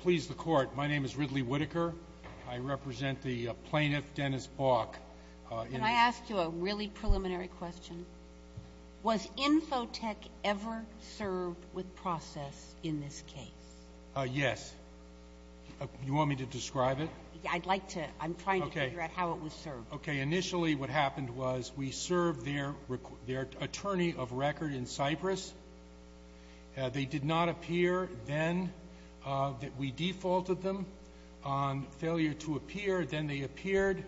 Please the court. My name is Ridley Whitaker. I represent the plaintiff Dennis Bauch. Can I ask you a really preliminary question? Was Infotech ever served with process in this case? Yes. You want me to describe it? I'd like to. I'm trying to figure out how it was served. Initially what happened was we served their attorney of record in Cyprus. They did not appear then. We defaulted them on failure to appear. Then they appeared,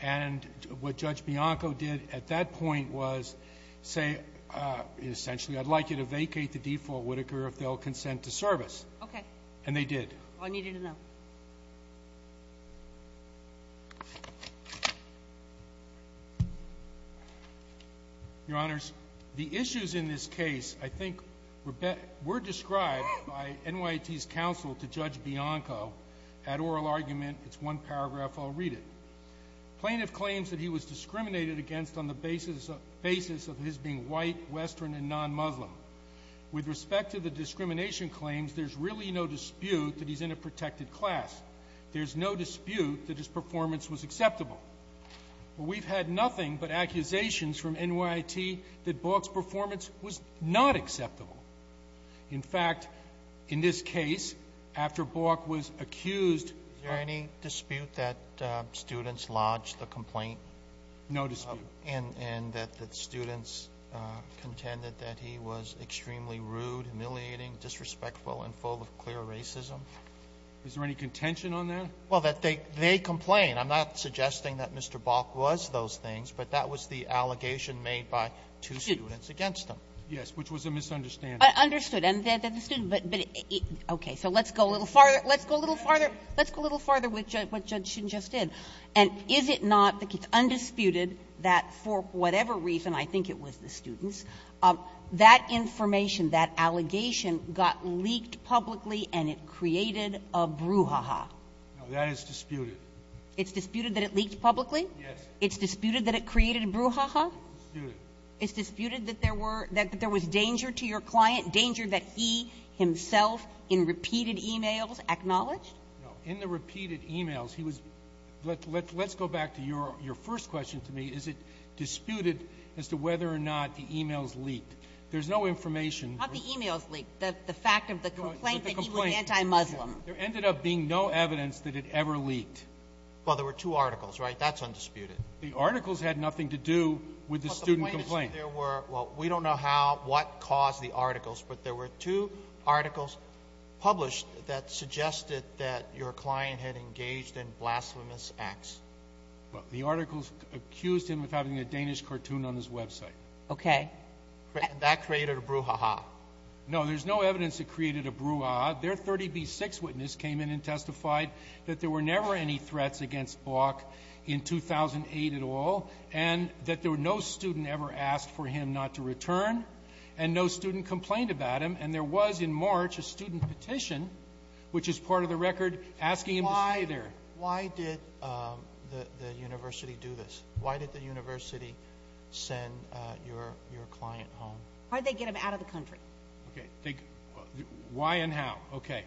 and what Judge Bianco did at that point was say, essentially, I'd like you to vacate the default, Whitaker, if they'll consent to service. Okay. And they did. I needed to know. Your Honors, the issues in this case I think were described by NYT's counsel to Judge Bianco at oral argument. It's one paragraph. I'll read it. Plaintiff claims that he was discriminated against on the basis of his being white, Western, and non-Muslim. With respect to the discrimination claims, there's really no dispute that he's in a protected class. There's no dispute that his performance was acceptable. We've had nothing but accusations from NYT that Bok's performance was not acceptable. In fact, in this case, after Bok was accused of ‑‑ Is there any dispute that students lodged the complaint? No dispute. And that the students contended that he was extremely rude, humiliating, disrespectful, and full of clear racism? Is there any contention on that? Well, that they ‑‑ they complain. I'm not suggesting that Mr. Bok was those things, but that was the allegation made by two students against him. Yes, which was a misunderstanding. I understood. And that the students ‑‑ but, okay. So let's go a little farther. Let's go a little farther. Let's go a little farther with what Judge Shin just did. And is it not that it's undisputed that for whatever reason, I think it was the students, that information, that allegation got leaked publicly and it created a brouhaha? No, that is disputed. It's disputed that it leaked publicly? Yes. It's disputed that it created a brouhaha? It's disputed. It's disputed that there was danger to your client, danger that he himself in repeated e-mails acknowledged? No. In the repeated e-mails, he was ‑‑ let's go back to your first question to me. Is it disputed as to whether or not the e-mails leaked? There's no information. Not the e-mails leaked. The fact of the complaint that he was anti-Muslim. There ended up being no evidence that it ever leaked. Well, there were two articles, right? That's undisputed. The articles had nothing to do with the student complaint. Well, we don't know what caused the articles, but there were two articles published that suggested that your client had engaged in blasphemous acts. Well, the articles accused him of having a Danish cartoon on his website. Okay. That created a brouhaha? No. There's no evidence it created a brouhaha. Their 30B6 witness came in and testified that there were never any threats against Bok in 2008 at all and that there were no student ever asked for him not to return and no student complained about him. And there was in March a student petition, which is part of the record, asking him to stay there. Why did the university do this? Why did the university send your client home? Why did they get him out of the country? Okay. Why and how. Okay.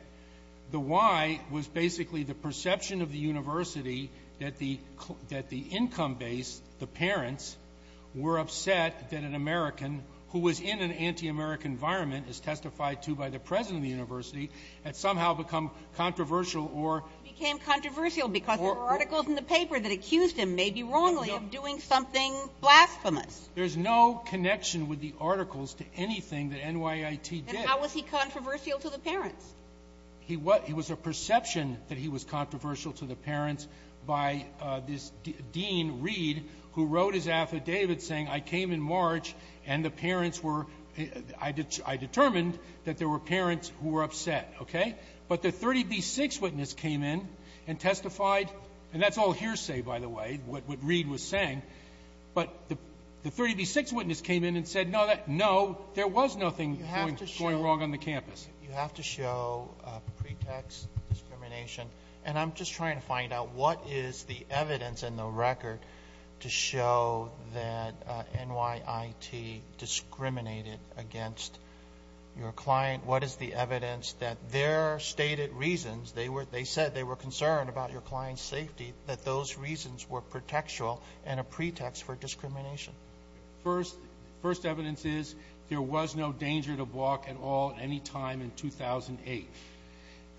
The why was basically the perception of the university that the income base, the parents, were upset that an American who was in an anti-American environment, as testified to by the president of the university, had somehow become controversial or became controversial because there were articles in the paper that accused him, maybe wrongly, of doing something blasphemous. There's no connection with the articles to anything that NYIT did. Then how was he controversial to the parents? He was a perception that he was controversial to the parents by this dean, Reed, who wrote his affidavit saying, I came in March and the parents were – I determined that there were parents who were upset. Okay. But the 30B6 witness came in and testified, and that's all hearsay, by the way, what Reed was saying. But the 30B6 witness came in and said, no, there was nothing going wrong on the campus. You have to show pretext discrimination. And I'm just trying to find out what is the evidence in the record to show that NYIT discriminated against your client. What is the evidence that their stated reasons, they said they were concerned about your client's safety, that those reasons were pretextual and a pretext for discrimination? First evidence is there was no danger to Balk at all at any time in 2008.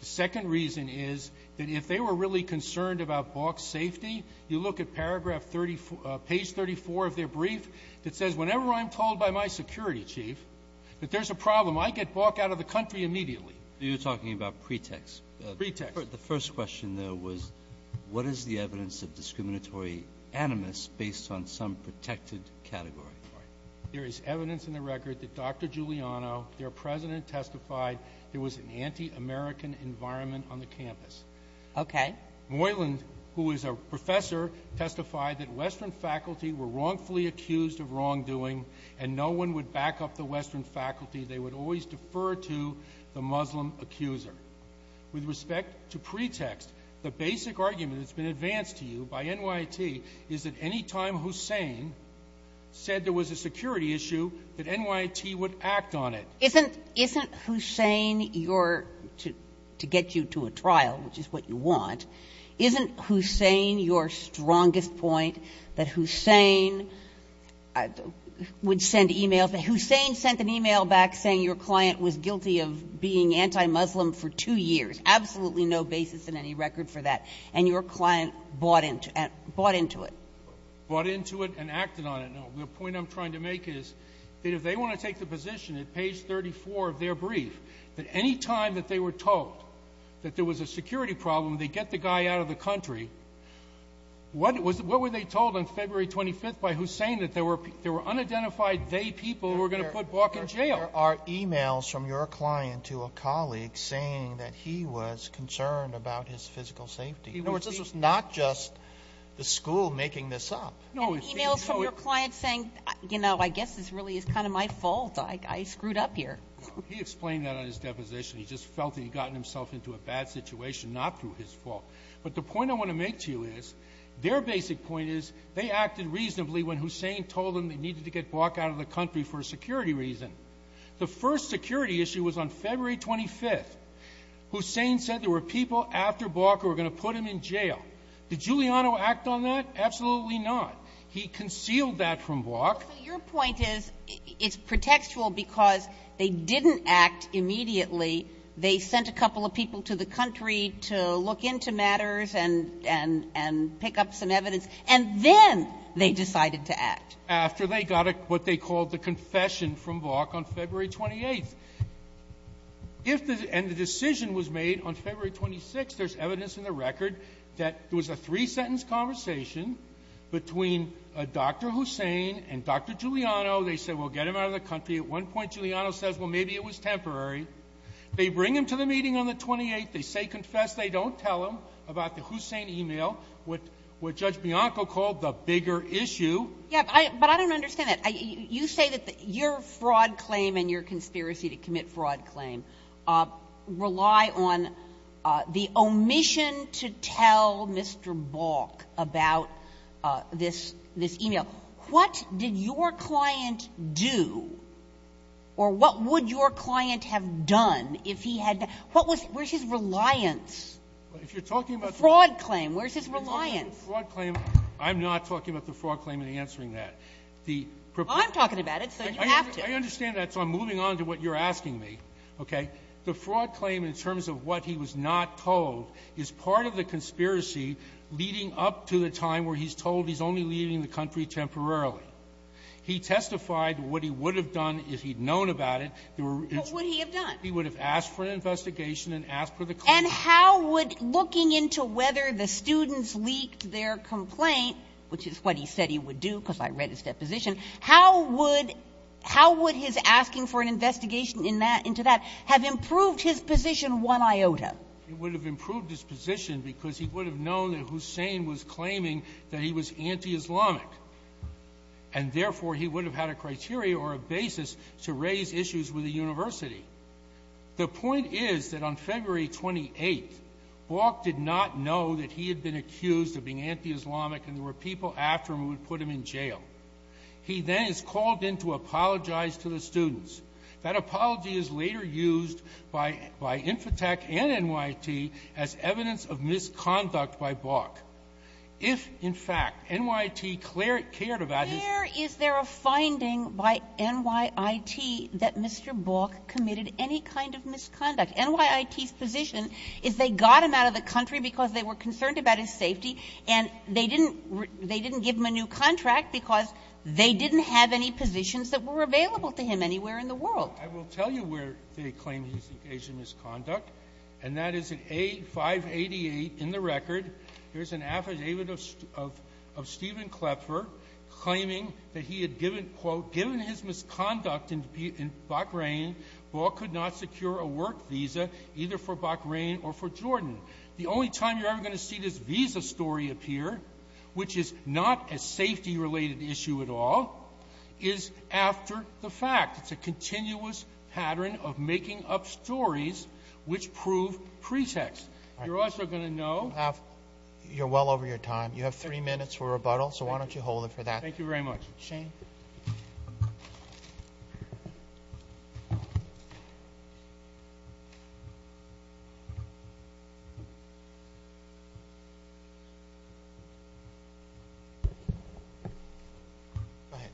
The second reason is that if they were really concerned about Balk's safety, you look at page 34 of their brief that says, whenever I'm told by my security chief that there's a problem, I get Balk out of the country immediately. You're talking about pretext. Pretext. The first question there was, what is the evidence of discriminatory animus based on some protected category? There is evidence in the record that Dr. Giuliano, their president, testified there was an anti-American environment on the campus. Okay. Moyland, who is a professor, testified that Western faculty were wrongfully accused of wrongdoing and no one would back up the Western faculty. They would always defer to the Muslim accuser. With respect to pretext, the basic argument that's been advanced to you by NYIT is that any time Hussein said there was a security issue, that NYIT would act on it. Isn't Hussein your to get you to a trial, which is what you want, isn't Hussein your strongest point that Hussein would send e-mails? Hussein sent an e-mail back saying your client was guilty of being anti-Muslim for two years. Absolutely no basis in any record for that. And your client bought into it. Bought into it and acted on it. No. The point I'm trying to make is that if they want to take the position at page 34 of their brief that any time that they were told that there was a security problem, they get the guy out of the country, what were they told on February 25th by Hussein that there were unidentified they people who were going to put Bok in jail? There are e-mails from your client to a colleague saying that he was concerned about his physical safety. In other words, this was not just the school making this up. And e-mails from your client saying, you know, I guess this really is kind of my fault. I screwed up here. He explained that on his deposition. He just felt that he had gotten himself into a bad situation, not through his fault. But the point I want to make to you is their basic point is they acted reasonably when Hussein told them they needed to get Bok out of the country for a security reason. The first security issue was on February 25th. Hussein said there were people after Bok who were going to put him in jail. Did Giuliano act on that? Absolutely not. He concealed that from Bok. Your point is it's pretextual because they didn't act immediately. They sent a couple of people to the country to look into matters and pick up some evidence. And then they decided to act. After they got what they called the confession from Bok on February 28th. If the decision was made on February 26th, there's evidence in the record that there was a three-sentence conversation between Dr. Hussein and Dr. Giuliano. They said, well, get him out of the country. At one point, Giuliano says, well, maybe it was temporary. They bring him to the meeting on the 28th. They say, confess. They don't tell him about the Hussein e-mail, what Judge Bianco called the bigger issue. Yeah, but I don't understand that. You say that your fraud claim and your conspiracy to commit fraud claim rely on the permission to tell Mr. Bok about this e-mail. What did your client do, or what would your client have done if he had to? What was his reliance? If you're talking about the fraud claim, where's his reliance? The fraud claim, I'm not talking about the fraud claim in answering that. I'm talking about it, so you have to. I understand that, so I'm moving on to what you're asking me, okay? The fraud claim, in terms of what he was not told, is part of the conspiracy leading up to the time where he's told he's only leaving the country temporarily. He testified what he would have done if he'd known about it. What would he have done? He would have asked for an investigation and asked for the claim. And how would looking into whether the students leaked their complaint, which is what he said he would do because I read his deposition, how would his asking for an investigation in that into that have improved his position one iota? He would have improved his position because he would have known that Hussein was claiming that he was anti-Islamic, and therefore he would have had a criteria or a basis to raise issues with the university. The point is that on February 28th, Bok did not know that he had been accused of being anti-Islamic and there were people after him who would put him in jail. He then is called in to apologize to the students. That apology is later used by Infotech and NYT as evidence of misconduct by Bok. If, in fact, NYT cared about his ---- Sotomayor, is there a finding by NYT that Mr. Bok committed any kind of misconduct? NYT's position is they got him out of the country because they were concerned about his safety, and they didn't give him a new contract because they didn't have any positions that were available to him anywhere in the world. I will tell you where they claim he's engaged in misconduct, and that is at A588 in the record. There's an affidavit of Stephen Kloepfer claiming that he had given, quote, given his misconduct in Bahrain, Bok could not secure a work visa either for Bahrain or for Jordan. The only time you're ever going to see this visa story appear, which is not a safety-related issue at all, is after the fact. It's a continuous pattern of making up stories which prove pretext. You're also going to know ---- You're well over your time. You have three minutes for rebuttal, so why don't you hold it for that? Thank you very much. Shane. Go ahead.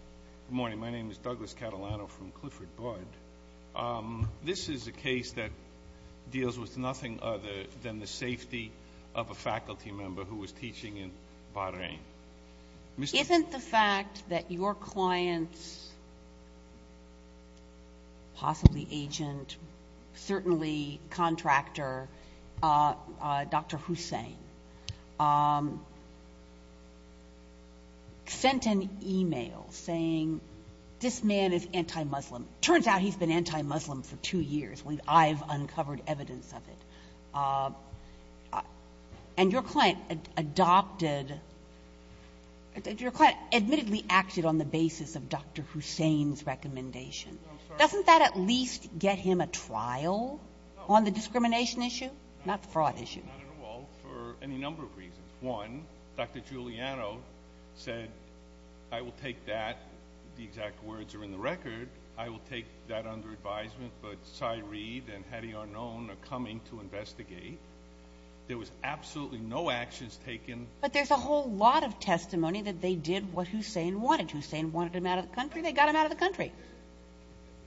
Good morning. My name is Douglas Catalano from Clifford Budd. This is a case that deals with nothing other than the safety of a faculty member who was teaching in Bahrain. Isn't the fact that your client's possibly agent, certainly contractor, Dr. Hussain, sent an e-mail saying, this man is anti-Muslim. It turns out he's been anti-Muslim for two years. I've uncovered evidence of it. And your client adopted ---- your client admittedly acted on the basis of Dr. Hussain's recommendation. Doesn't that at least get him a trial on the discrimination issue, not the fraud issue? Not at all, for any number of reasons. One, Dr. Giuliano said, I will take that. The exact words are in the record. I will take that under advisement. But Sy Reed and Hedy Arnone are coming to investigate. There was absolutely no actions taken. But there's a whole lot of testimony that they did what Hussain wanted. Hussain wanted him out of the country. They got him out of the country.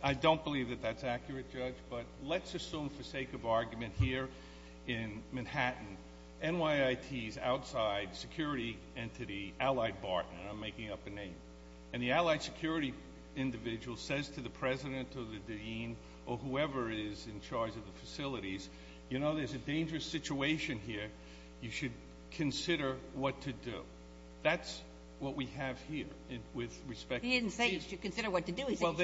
I don't believe that that's accurate, Judge. But let's assume for sake of argument here in Manhattan, NYIT's outside security entity, Allied Barton, and I'm making up a name, and the Allied security individual says to the president or the dean or whoever is in charge of the facilities, you know, there's a dangerous situation here. You should consider what to do. That's what we have here with respect to ---- He didn't say you should consider what to do. Put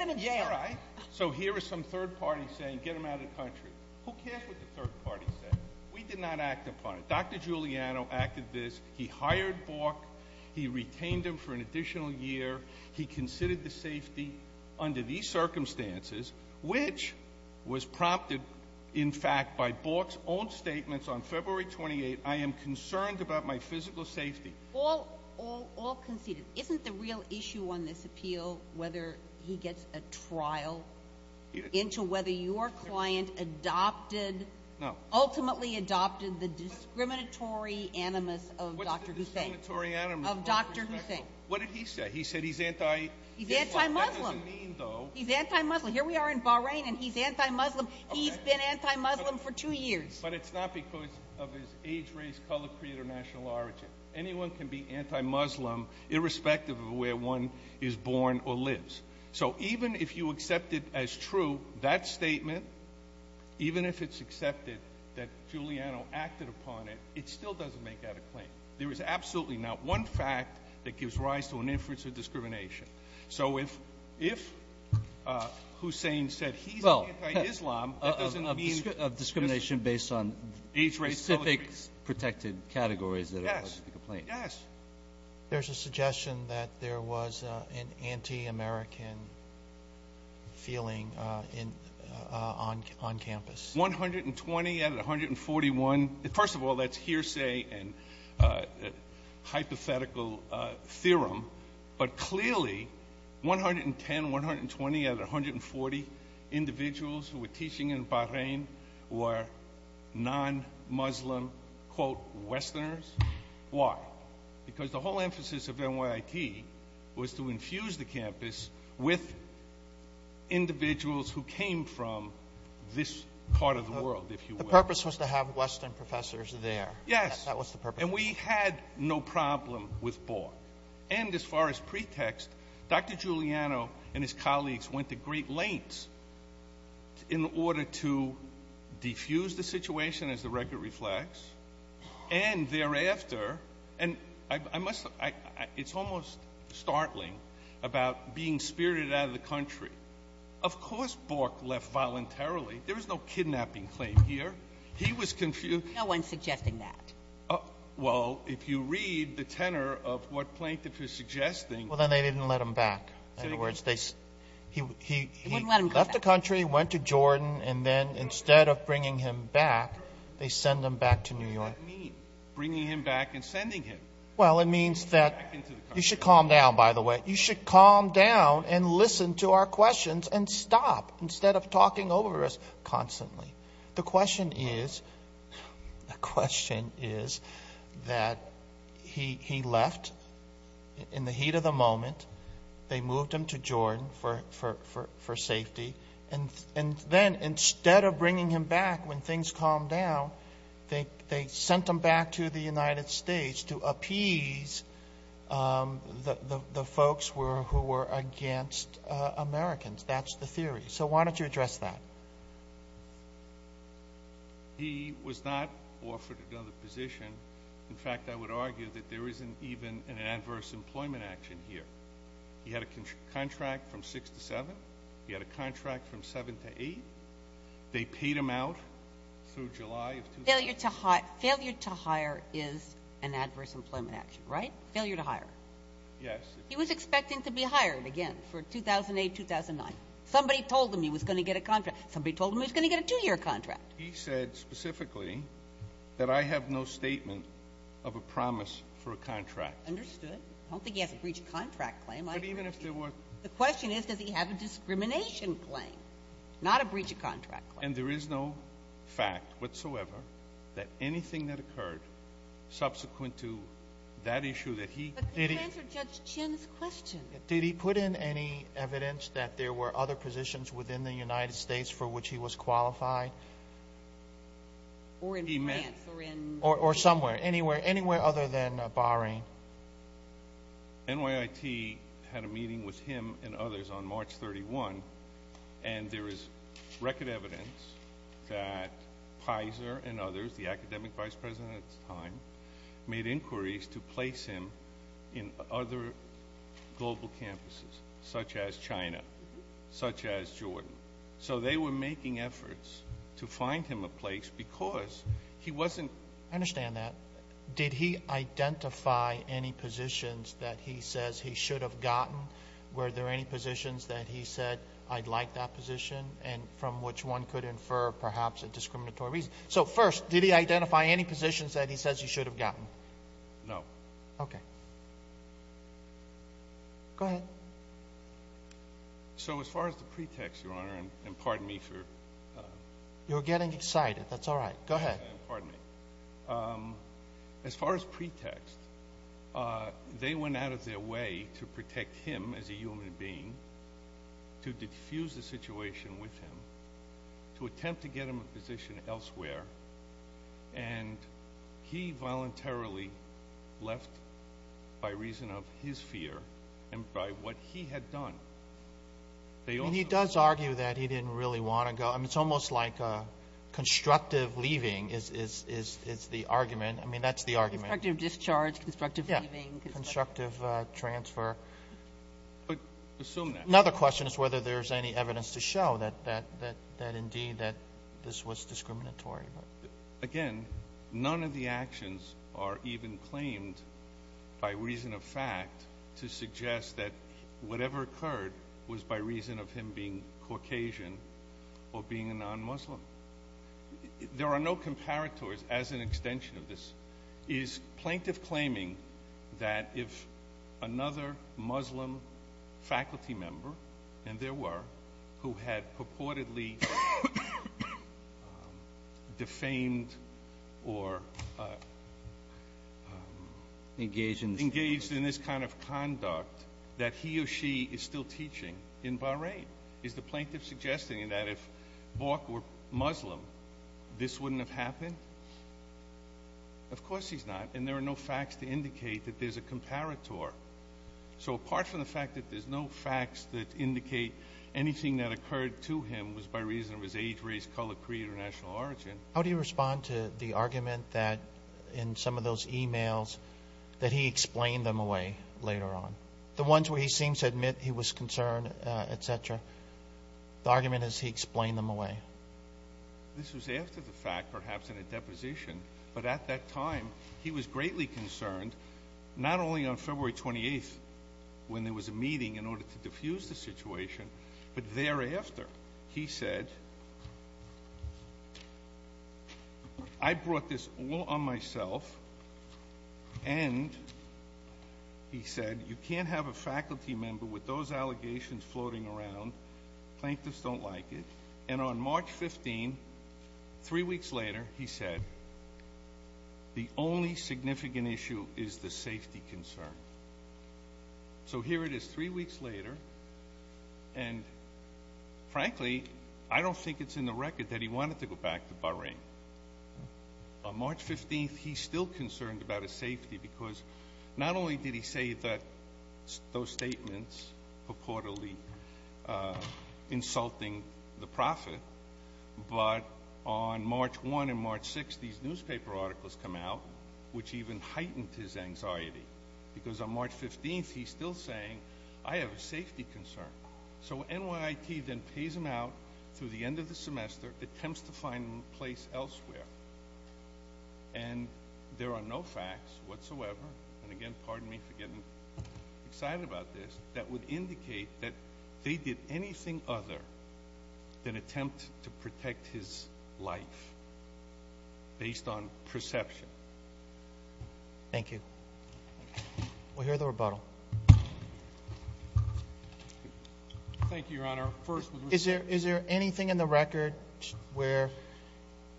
him in jail. All right. So here are some third parties saying, get him out of the country. Who cares what the third party said? We did not act upon it. Dr. Giuliano acted this. He hired Bork. He retained him for an additional year. He considered the safety under these circumstances, which was prompted, in fact, by Bork's own statements on February 28, I am concerned about my physical safety. I mean, is he getting a trial? I mean, is he getting a trial? I mean, is he getting a trial? No. Ultimately adopted the discriminatory animus of Dr. Hussein. What's the discriminatory animus? Of Dr. Hussein. What did he say? He said he's anti- He's anti-Muslim. That doesn't mean, though. He's anti-Muslim. Here we are in Bahrain, and he's anti-Muslim. He's been anti-Muslim for two years. But it's not because of his age, race, color, creed, or national origin. You can't be anti-Muslim. You can't be anti-Muslim. You can't be anti-Muslim. even if it's accepted as true, that statement, even if it's accepted that Giuliano acted upon it, it still doesn't make that a claim. There is absolutely not one fact that gives rise to an inference of discrimination. So if Hussein said he's anti-Islam, that doesn't mean that's a claim. There's a suggestion that there was an anti-American feeling on campus. 120 out of 141. First of all, that's hearsay and hypothetical theorem. But clearly, 110, 120 out of 140 individuals who were teaching in Bahrain were non-Muslim, quote, Westerners. Why? Because the whole emphasis of NYIT was to infuse the campus with individuals who came from this part of the world, if you will. The purpose was to have Western professors there. Yes. That was the purpose. And we had no problem with Bork. And as far as pretext, Dr. Giuliano and his colleagues went to great lengths in order to bring the campus together. Diffused the situation as the record reflects. And thereafter, and I must, it's almost startling about being spirited out of the country. Of course Bork left voluntarily. There was no kidnapping claim here. He was confused. No one's suggesting that. Well, if you read the tenor of what plaintiff is suggesting. Well, then they didn't let him back. In other words, they, he left the country, went to Jordan, and then instead of bringing the campus back, he went to Jordan. And instead of bringing him back, they send him back to New York. What does that mean? Bringing him back and sending him? Well, it means that you should calm down, by the way. You should calm down and listen to our questions and stop instead of talking over us constantly. The question is, the question is that he left in the heat of the moment. They moved him to Jordan for safety. And then instead of bringing him back, when things calmed down, they sent him back to the United States to appease the folks who were against Americans. That's the theory. So why don't you address that? He was not offered another position. In fact, I would argue that there isn't even an adverse employment action here. He had a contract from six to seven. He had a contract from seven to eight. They paid him out through July of 2000. Failure to hire is an adverse employment action, right? Failure to hire. Yes. He was expecting to be hired again for 2008, 2009. Somebody told him he was going to get a contract. Somebody told him he was going to get a two-year contract. He said specifically that I have no statement of a promise for a contract. Understood. I don't think he has a breach of contract claim. But even if there were. The question is, does he have a discrimination claim? Not a breach of contract claim. And there is no fact whatsoever that anything that occurred subsequent to that issue that he... But you answered Judge Chin's question. Did he put in any evidence that there were other positions within the United States for which he was qualified? Or in France or in... Or somewhere. Anywhere other than Bahrain. NYIT had a meeting with him and others on March 31. And there is record evidence that Pizer and others, the academic vice president at the time, made inquiries to place him in other global campuses such as China, such as Jordan. So they were making efforts to find him a place because he wasn't... I understand that. Did he identify any positions that he says he should have gotten? Were there any positions that he said, I'd like that position? And from which one could infer perhaps a discriminatory reason? So first, did he identify any positions that he says he should have gotten? No. Okay. Go ahead. So as far as the pretext, Your Honor, and pardon me for... You're getting excited. That's all right. Go ahead. Pardon me. As far as pretext, they went out of their way to protect him as a human being, to diffuse the situation with him, to attempt to get him a position elsewhere. And he voluntarily left by reason of his fear and by what he had done. And he does argue that he didn't really want to go. I mean, it's almost like a constructive leaving. Constructive leaving is the argument. I mean, that's the argument. Constructive discharge. Constructive leaving. Yeah. Constructive transfer. But assume that. Another question is whether there's any evidence to show that indeed that this was discriminatory. Again, none of the actions are even claimed by reason of fact to suggest that whatever occurred was by reason of him being Caucasian or being a non-Muslim. There are no comparators as an extension of this. Is plaintiff claiming that if another Muslim faculty member, and there were, who had purportedly defamed or engaged in this kind of conduct, that he or she is still teaching in Bahrain? Is the plaintiff suggesting that if Bork were Muslim, this wouldn't have happened? Of course he's not. And there are no facts to indicate that there's a comparator. So apart from the fact that there's no facts that indicate anything that occurred to him was by reason of his age, race, color, creed, or national origin. How do you respond to the argument that in some of those emails that he explained them away later on? The ones where he seems to admit he was concerned, et cetera. The argument is he explained them away. This was after the fact, perhaps in a deposition. But at that time, he was greatly concerned, not only on February 28th when there was a meeting in order to diffuse the situation, but thereafter. He said, I brought this all on myself. And he said, you can't have a faculty member with those allegations floating around. Plaintiffs don't like it. And on March 15, three weeks later, he said, the only significant issue is the safety concern. So here it is three weeks later. And frankly, I don't think it's in the record that he wanted to go back to Bahrain. On March 15th, he's still concerned about his safety because not only did he say that those statements purportedly were insulting the prophet, but on March 1 and March 6, these newspaper articles come out, which even heightened his anxiety because on March 15th, he's still saying, I have a safety concern. So NYIT then pays him out through the end of the semester, attempts to find him a place elsewhere. And there are no facts whatsoever. And again, pardon me for getting excited about this, that would indicate that they did anything other than attempt to protect his life based on perception. Thank you. We'll hear the rebuttal. Thank you, Your Honor. Is there anything in the record where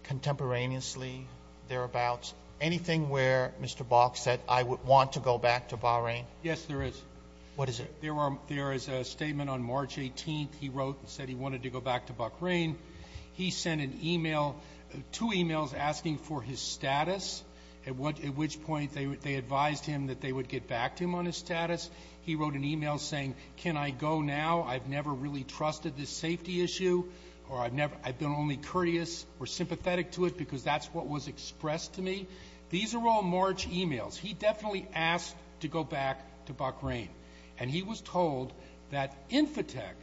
contemporaneously, thereabouts, anything where Mr. Bok said, I would want to go back to Bahrain? Yes, there is. What is it? There is a statement on March 18th. He wrote and said he wanted to go back to Bahrain. He sent an email, two emails asking for his status, at which point they advised him that they would get back to him on his status. He wrote an email saying, can I go now? I've never really trusted this safety issue or I've been only courteous or sympathetic to it because that's what was expressed to me. These are all March emails. He definitely asked to go back to Bahrain. He was told that Infotech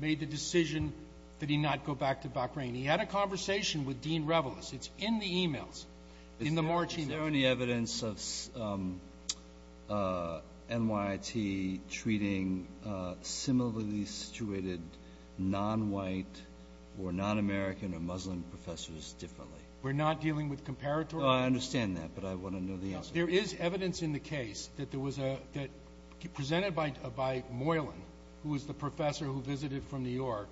made the decision that he not go back to Bahrain. He had a conversation with Dean Revelous. It's in the emails, in the March emails. Is there any evidence of NYIT treating similarly situated non-white or non-American or Muslim professors differently? We're not dealing with comparatory? I understand that, but I want to know the answer. There is evidence in the case that presented by Moylan, who was the professor who visited from New York,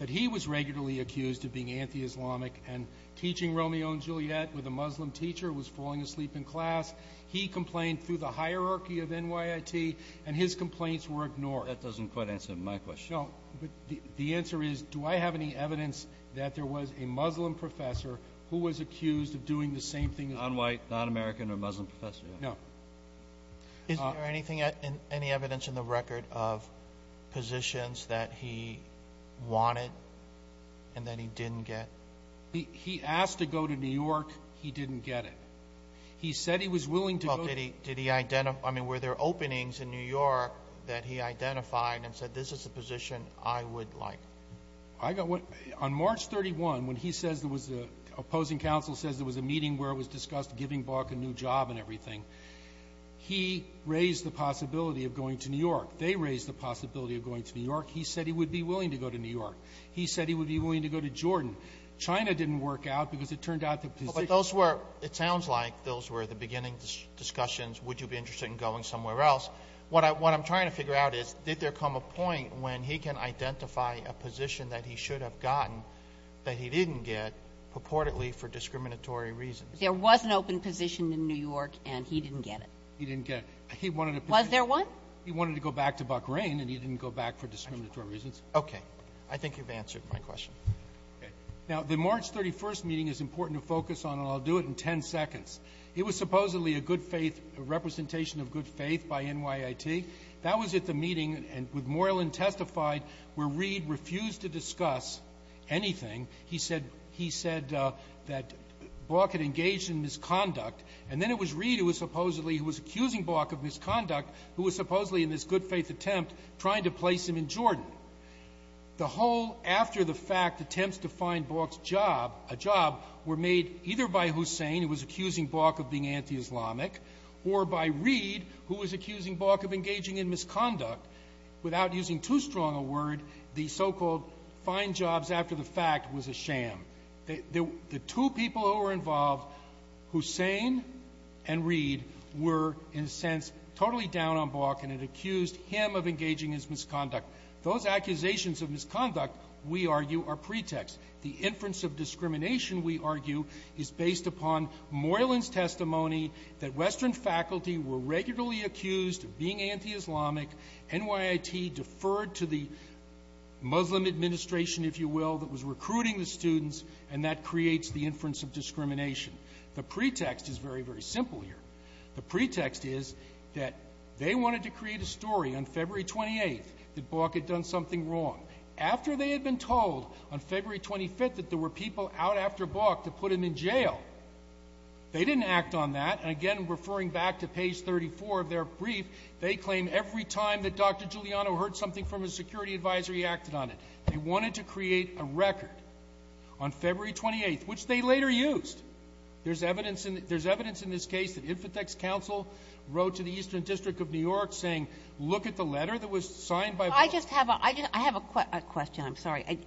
that he was regularly accused of being anti-Islamic and teaching Romeo and Juliet with a Muslim teacher who was falling asleep in class. He complained through the hierarchy of NYIT and his complaints were ignored. That doesn't quite answer my question. The answer is, do I have any evidence that there was a Muslim professor in New York? No. Is there any evidence in the record of positions that he wanted and that he didn't get? He asked to go to New York. He didn't get it. He said he was willing to go. Were there openings in New York that he identified and said this is a position I would like? On March 31, when the opposing council says there was a meeting where it was discussed giving Balk a new job and everything, he raised the possibility of going to New York. They raised the possibility of going to New York. He said he would be willing to go to New York. He said he would be willing to go to Jordan. China didn't work out because it turned out that those were, it sounds like, those were the beginning discussions. Would you be interested in going somewhere else? What I'm trying to figure out is did there come a point when he can identify a position that he should have gotten that he didn't get purportedly for discriminatory reasons? There was an open position in New York and he didn't get it. He didn't get it. Was there one? He wanted to go back to Buck Rain and he didn't go back for discriminatory reasons. Okay. I think you've answered my question. Now, the March 31 meeting is important to focus on and I'll do it in ten seconds. It was supposedly a good faith, a representation of good faith by NYIT. That was at the meeting with Moreland testified where Reed refused to discuss anything. He said, he said that Bok had engaged in misconduct and then it was Reed who was supposedly, who was accusing Bok of misconduct who was supposedly in this good faith attempt trying to place him in Jordan. The whole after the fact attempts to find Bok's job, a job, were made either by Hussain who was accusing Bok of being anti-Islamic or by Reed who was accusing Bok of engaging in misconduct without using too strong a word the so-called find jobs after the fact was a sham. The two people who were involved, Hussain and Reed were, in a sense, totally down on Bok and had accused him of engaging in his misconduct. Those accusations of misconduct, we argue, are pretext. The inference of discrimination, we argue, is based upon Moylan's testimony that Western faculty were regularly accused of being anti-Islamic, NYIT deferred to the Muslim administration, if you will, that was recruiting the students and that creates the inference of discrimination. The pretext The pretext is that they wanted to create a story on February 28th that Bok had done something wrong. After they had been told that Bok had done something wrong, on February 25th that there were people out after Bok to put him in jail. They didn't act on that and again, referring back to page 34 of their brief, they claim every time that Dr. Giuliano heard something from his security advisor he acted on it. They wanted to create a record on February 28th which they later used. There's evidence in this case that Infotech's council wrote to the Eastern District of New York saying, look at the letter that was signed by Bok. I just have a question, I'm sorry.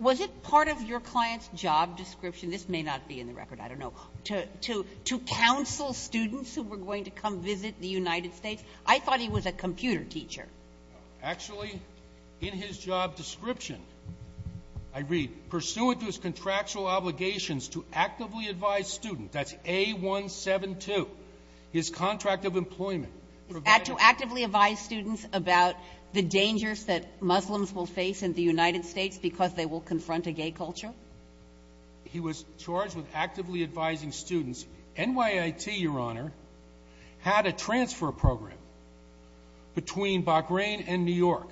Was it part of your client's job description, this may not be in the record, I don't know, to counsel students who were going to come visit the United States? I thought he was a computer teacher. Actually, in his job description, I read, pursuant to his contractual obligations to actively advise students, that's A172, his contract of employment. To actively advise students about the dangers that Muslims will face in the United States because they will confront a gay culture? He was charged with actively advising students. NYIT, Your Honor, had a transfer program between Bahrain and New York.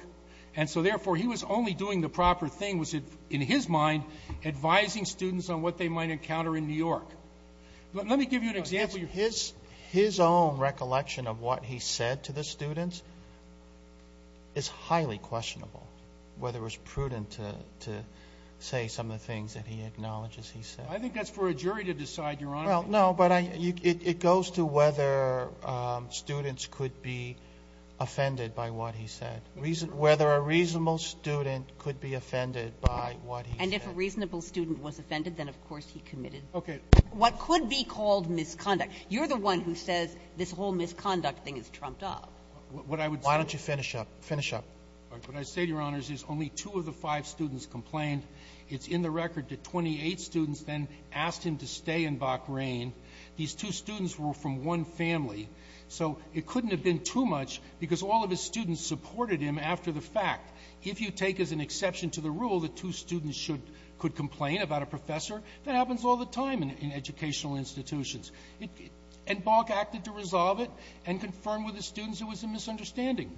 And so, therefore, he was only doing the proper thing was, in his mind, advising students on what they might encounter in New York. Let me give you an example. His own recollection of what he said to the students is highly questionable, whether it's prudent to say some of the things that he acknowledges he said. I think that's for a jury to decide, Your Honor. Well, no, but it goes to whether students could be offended by what he said. Whether a reasonable student could be offended by what he said. And if a reasonable student was offended, then, of course, he committed what could be called misconduct. You're the one who says this whole misconduct thing is trumped up. Why don't you finish up? Finish up. What I say, Your Honor, is only two of the five students complained. It's in the record that 28 students then asked him to stay in Bach Rain. These two students were from one family, so it couldn't have been too much because all of his students supported him after the fact. If you take as an exception to the rule that two students could complain about a professor, that happens all the time in educational institutions. And Bach acted to resolve it and confirm with his students it was a misunderstanding.